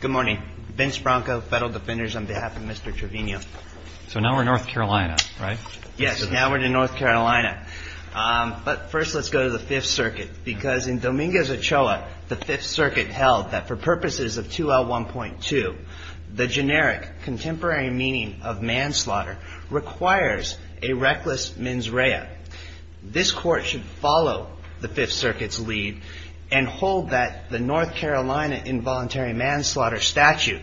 Good morning. Vince Bronco, Federal Defenders, on behalf of Mr. Trevino. So now we're in North Carolina, right? Yes, now we're in North Carolina. But first let's go to the Fifth Circuit. Because in Dominguez-Ochoa, the Fifth Circuit held that for purposes of 2L1.2, the generic contemporary meaning of manslaughter requires a reckless mens rea. This court should follow the Fifth Circuit's lead and hold that the North Carolina involuntary manslaughter statute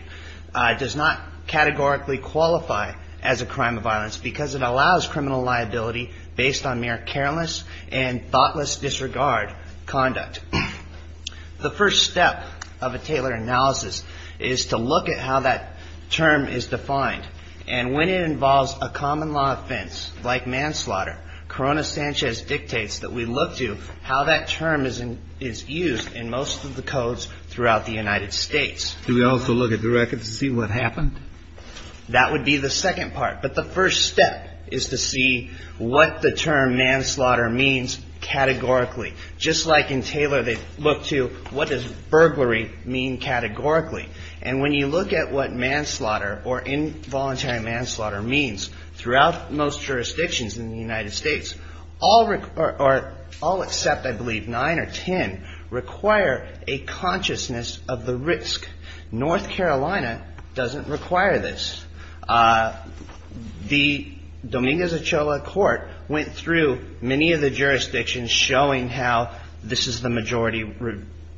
does not categorically qualify as a crime of violence because it allows criminal liability based on mere careless and thoughtless disregard conduct. The first step of a Taylor analysis is to look at how that term is defined. And when it involves a common law offense like manslaughter, Corona-Sanchez dictates that we look to how that term is used in most of the codes throughout the United States. Do we also look at the record to see what happened? That would be the second part. But the first step is to see what the term manslaughter means categorically. Just like in Taylor, they look to what does burglary mean categorically. And when you look at what manslaughter or involuntary manslaughter means throughout most jurisdictions in the United States, all except I believe 9 or 10 require a consciousness of the risk. North Carolina doesn't require this. The Dominguez-Ochoa court went through many of the jurisdictions showing how this is the majority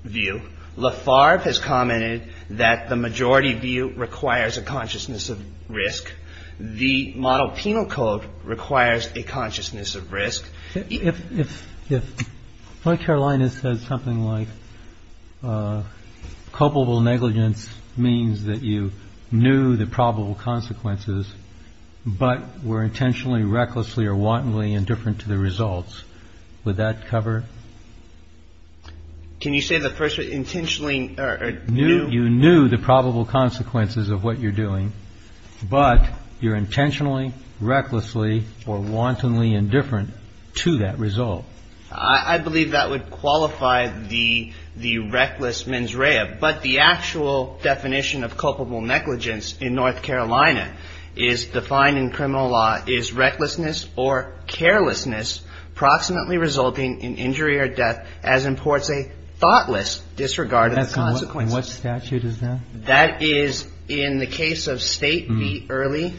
view. Lafarve has commented that the majority view requires a consciousness of risk. The model penal code requires a consciousness of risk. If North Carolina says something like culpable negligence means that you knew the probable consequences but were intentionally, recklessly or wantonly indifferent to the results, would that cover? Can you say the first intentionally or knew? You knew the probable consequences of what you're doing. But you're intentionally, recklessly or wantonly indifferent to that result. I believe that would qualify the reckless mens rea. But the actual definition of culpable negligence in North Carolina is defined in criminal law as recklessness or carelessness approximately resulting in injury or death as imports a thoughtless disregard of consequences. And what statute is that? That is in the case of State v. Early,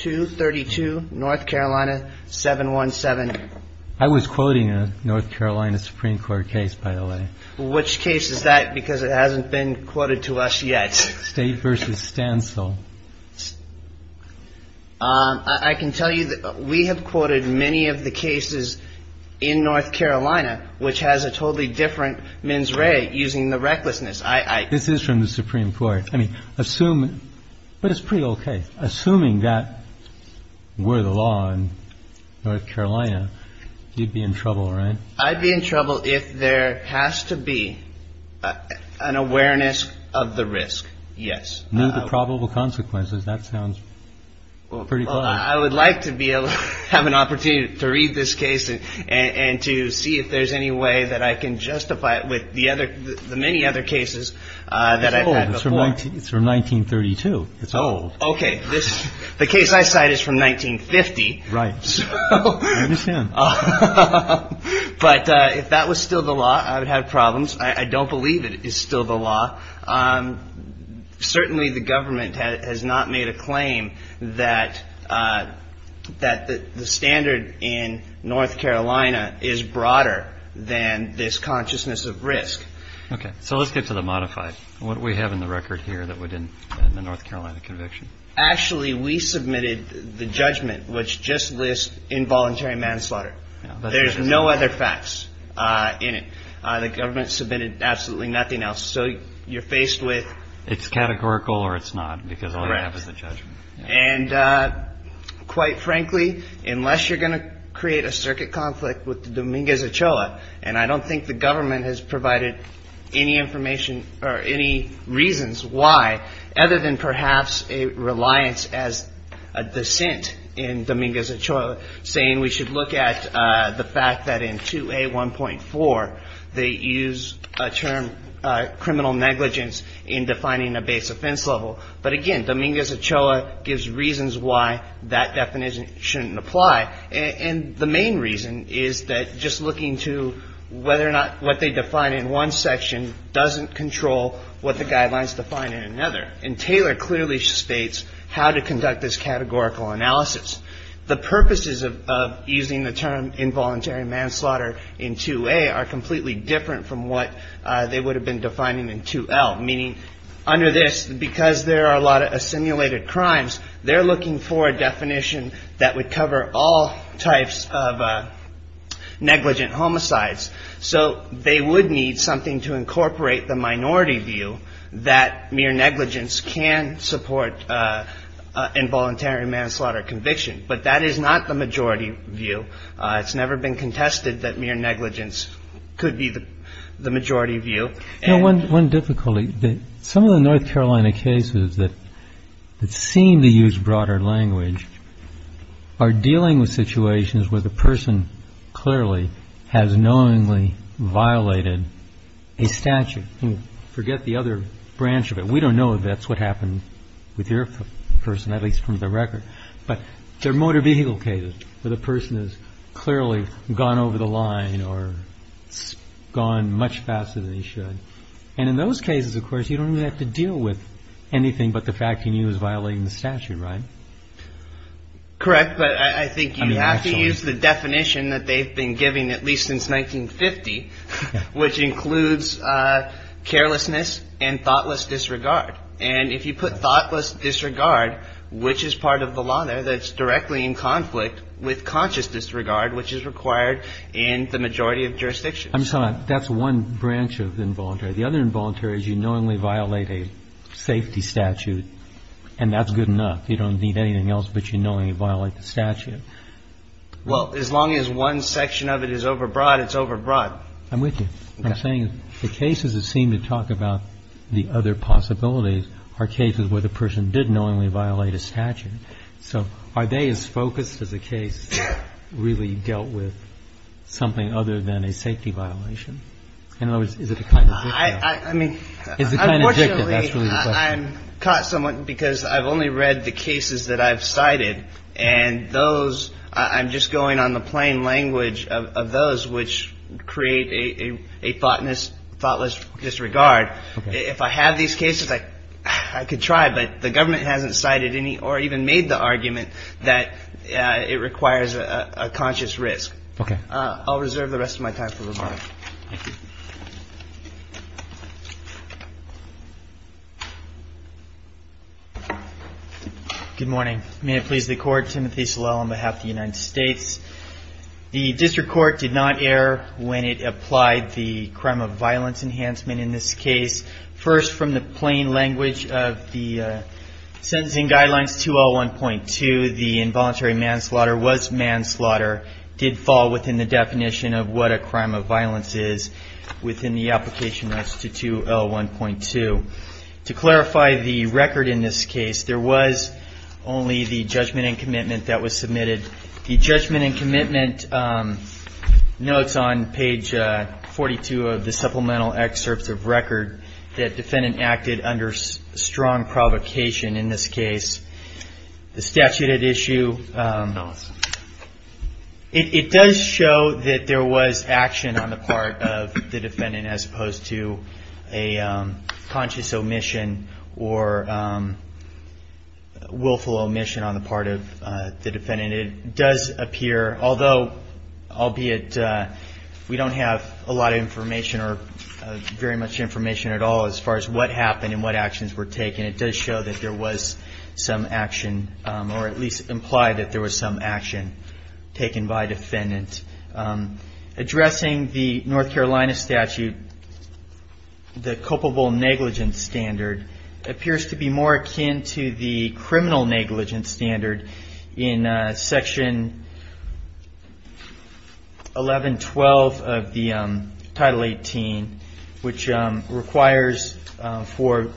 232, North Carolina, 717. I was quoting a North Carolina Supreme Court case, by the way. Which case is that? Because it hasn't been quoted to us yet. State v. Stancil. I can tell you that we have quoted many of the cases in North Carolina, which has a totally different mens rea using the recklessness. This is from the Supreme Court. I mean, assume it. But it's pretty OK. Assuming that were the law in North Carolina, you'd be in trouble, right? I'd be in trouble if there has to be an awareness of the risk. Yes. I would like to be able to have an opportunity to read this case and to see if there's any way that I can justify it with the many other cases that I've had before. It's old. It's from 1932. It's old. OK. The case I cite is from 1950. Right. I understand. But if that was still the law, I would have problems. I don't believe it is still the law. Certainly the government has not made a claim that the standard in North Carolina is broader than this consciousness of risk. OK. So let's get to the modified. What do we have in the record here that we didn't in the North Carolina conviction? Actually, we submitted the judgment, which just lists involuntary manslaughter. There's no other facts in it. The government submitted absolutely nothing else. So you're faced with. It's categorical or it's not, because all I have is the judgment. And quite frankly, unless you're going to create a circuit conflict with the Dominguez Ochoa. And I don't think the government has provided any information or any reasons why, other than perhaps a reliance as a dissent in Dominguez Ochoa saying we should look at the fact that in 2A 1.4, they use a term criminal negligence in defining a base offense level. But again, Dominguez Ochoa gives reasons why that definition shouldn't apply. And the main reason is that just looking to whether or not what they define in one section doesn't control what the guidelines define in another. And Taylor clearly states how to conduct this categorical analysis. The purposes of using the term involuntary manslaughter in 2A are completely different from what they would have been defining in 2L. Meaning under this, because there are a lot of assimilated crimes, they're looking for a definition that would cover all types of negligent homicides. So they would need something to incorporate the minority view that mere negligence can support involuntary manslaughter conviction. But that is not the majority view. It's never been contested that mere negligence could be the majority view. One difficulty, some of the North Carolina cases that seem to use broader language are dealing with situations where the person clearly has knowingly violated a statute. Forget the other branch of it. We don't know if that's what happened with your person, at least from the record. But there are motor vehicle cases where the person has clearly gone over the line or gone much faster than they should. And in those cases, of course, you don't have to deal with anything but the fact that he was violating the statute. Right. Correct. But I think you have to use the definition that they've been giving at least since 1950, which includes carelessness and thoughtless disregard. And if you put thoughtless disregard, which is part of the law there, that's directly in conflict with conscious disregard, which is required in the majority of jurisdictions. I'm sorry. That's one branch of involuntary. The other involuntary is you knowingly violate a safety statute, and that's good enough. You don't need anything else, but you knowingly violate the statute. Well, as long as one section of it is overbroad, it's overbroad. I'm with you. I'm saying the cases that seem to talk about the other possibilities are cases where the person did knowingly violate a statute. So are they as focused as a case that really dealt with something other than a safety violation? In other words, is it a kind of victim? I mean, unfortunately, I'm caught somewhat because I've only read the cases that I've cited. And those I'm just going on the plain language of those which create a thoughtless disregard. If I have these cases, I could try. But the government hasn't cited any or even made the argument that it requires a conscious risk. I'll reserve the rest of my time. Thank you. Good morning. May it please the Court. Timothy Salel on behalf of the United States. The district court did not err when it applied the crime of violence enhancement in this case. First, from the plain language of the sentencing guidelines 201.2, the involuntary manslaughter was manslaughter, did fall within the definition of what a crime of violence is within the application rights to 201.2. To clarify the record in this case, there was only the judgment and commitment that was submitted. The judgment and commitment notes on page 42 of the supplemental excerpts of record that defendant acted under strong provocation. In this case, the statute at issue, it does show that there was action on the part of the defendant as opposed to a conscious omission or willful omission on the part of the defendant. It does appear, although albeit we don't have a lot of information or very much information at all as far as what happened and what actions were taken, it does show that there was some action or at least imply that there was some action taken by defendant. Addressing the North Carolina statute, the culpable negligence standard appears to be more akin to the criminal negligence standard in section 1112 of the Title 18, which requires for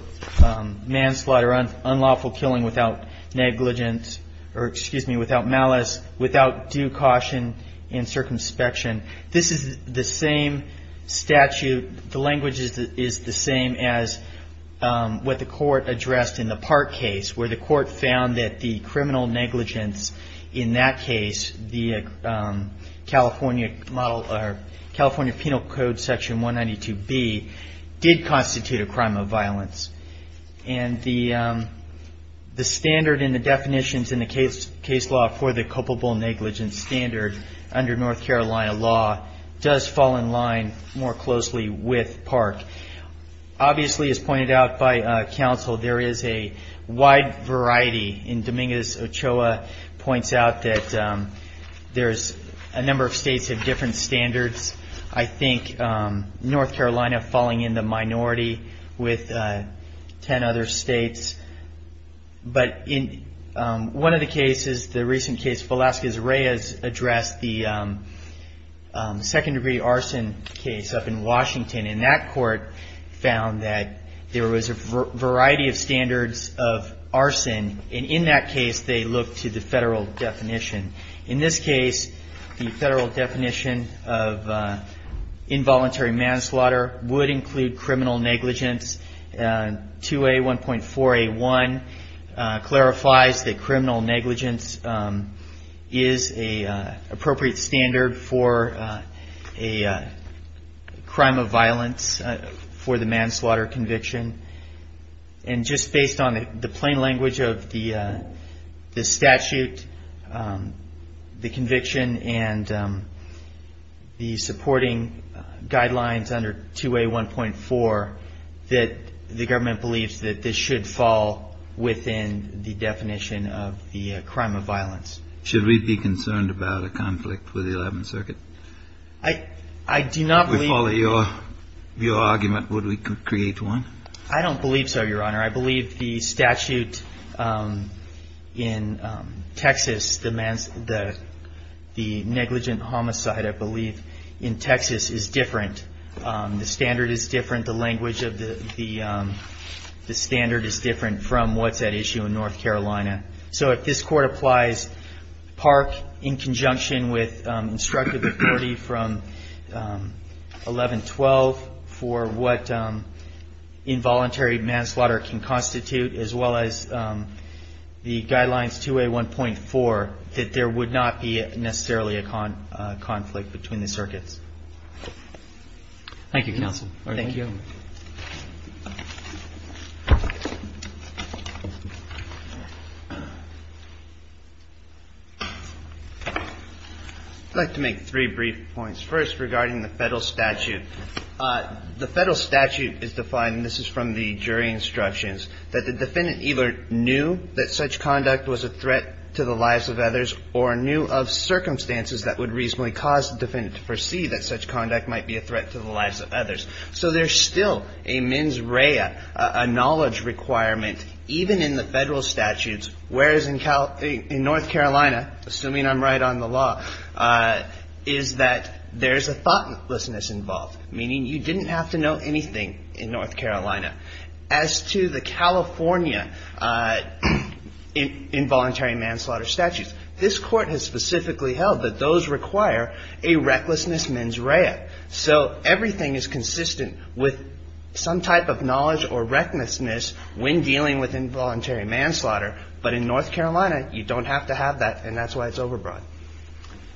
manslaughter, unlawful killing without negligence, or excuse me, without malice, without due caution and circumspection. This is the same statute, the language is the same as what the court addressed in the Park case, where the court found that the criminal negligence in that case, the California Penal Code section 192B, did constitute a crime of violence. And the standard and the definitions in the case law for the culpable negligence standard under North Carolina law does fall in line more closely with Park. Obviously, as pointed out by counsel, there is a wide variety. And Dominguez-Ochoa points out that there's a number of states that have different standards. I think North Carolina falling in the minority with 10 other states. But in one of the cases, the recent case, Velasquez-Reyes addressed the second-degree arson case up in Washington. And that court found that there was a variety of standards of arson. And in that case, they looked to the federal definition. In this case, the federal definition of involuntary manslaughter would include criminal negligence. 2A1.4A1 clarifies that criminal negligence is an appropriate standard for a crime of violence for the manslaughter conviction. And just based on the plain language of the statute, the conviction, and the supporting guidelines under 2A1.4, that the government believes that this should fall within the definition of the crime of violence. Should we be concerned about a conflict with the 11th Circuit? I do not believe. Your argument, would we create one? I don't believe so, Your Honor. I believe the statute in Texas demands the negligent homicide, I believe, in Texas is different. The standard is different. The language of the standard is different from what's at issue in North Carolina. So if this Court applies Park in conjunction with instructive authority from 1112 for what involuntary manslaughter can constitute, as well as the guidelines 2A1.4, that there would not be necessarily a conflict between the circuits. Thank you, counsel. Thank you. I'd like to make three brief points. First, regarding the federal statute. The federal statute is defined, and this is from the jury instructions, that the defendant either knew that such conduct was a threat to the lives of others or knew of circumstances that would reasonably cause the defendant to foresee that such conduct might be a threat to the lives of others. So there's still a mens rea, a knowledge requirement, even in the federal statutes, whereas in North Carolina, assuming I'm right on the law, is that there's a thoughtlessness involved, meaning you didn't have to know anything in North Carolina. As to the California involuntary manslaughter statutes, this Court has specifically held that those require a recklessness mens rea. So everything is consistent with some type of knowledge or recklessness when dealing with involuntary manslaughter, but in North Carolina, you don't have to have that, and that's why it's overbroad.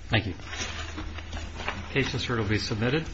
Thank you. The case is here to be submitted.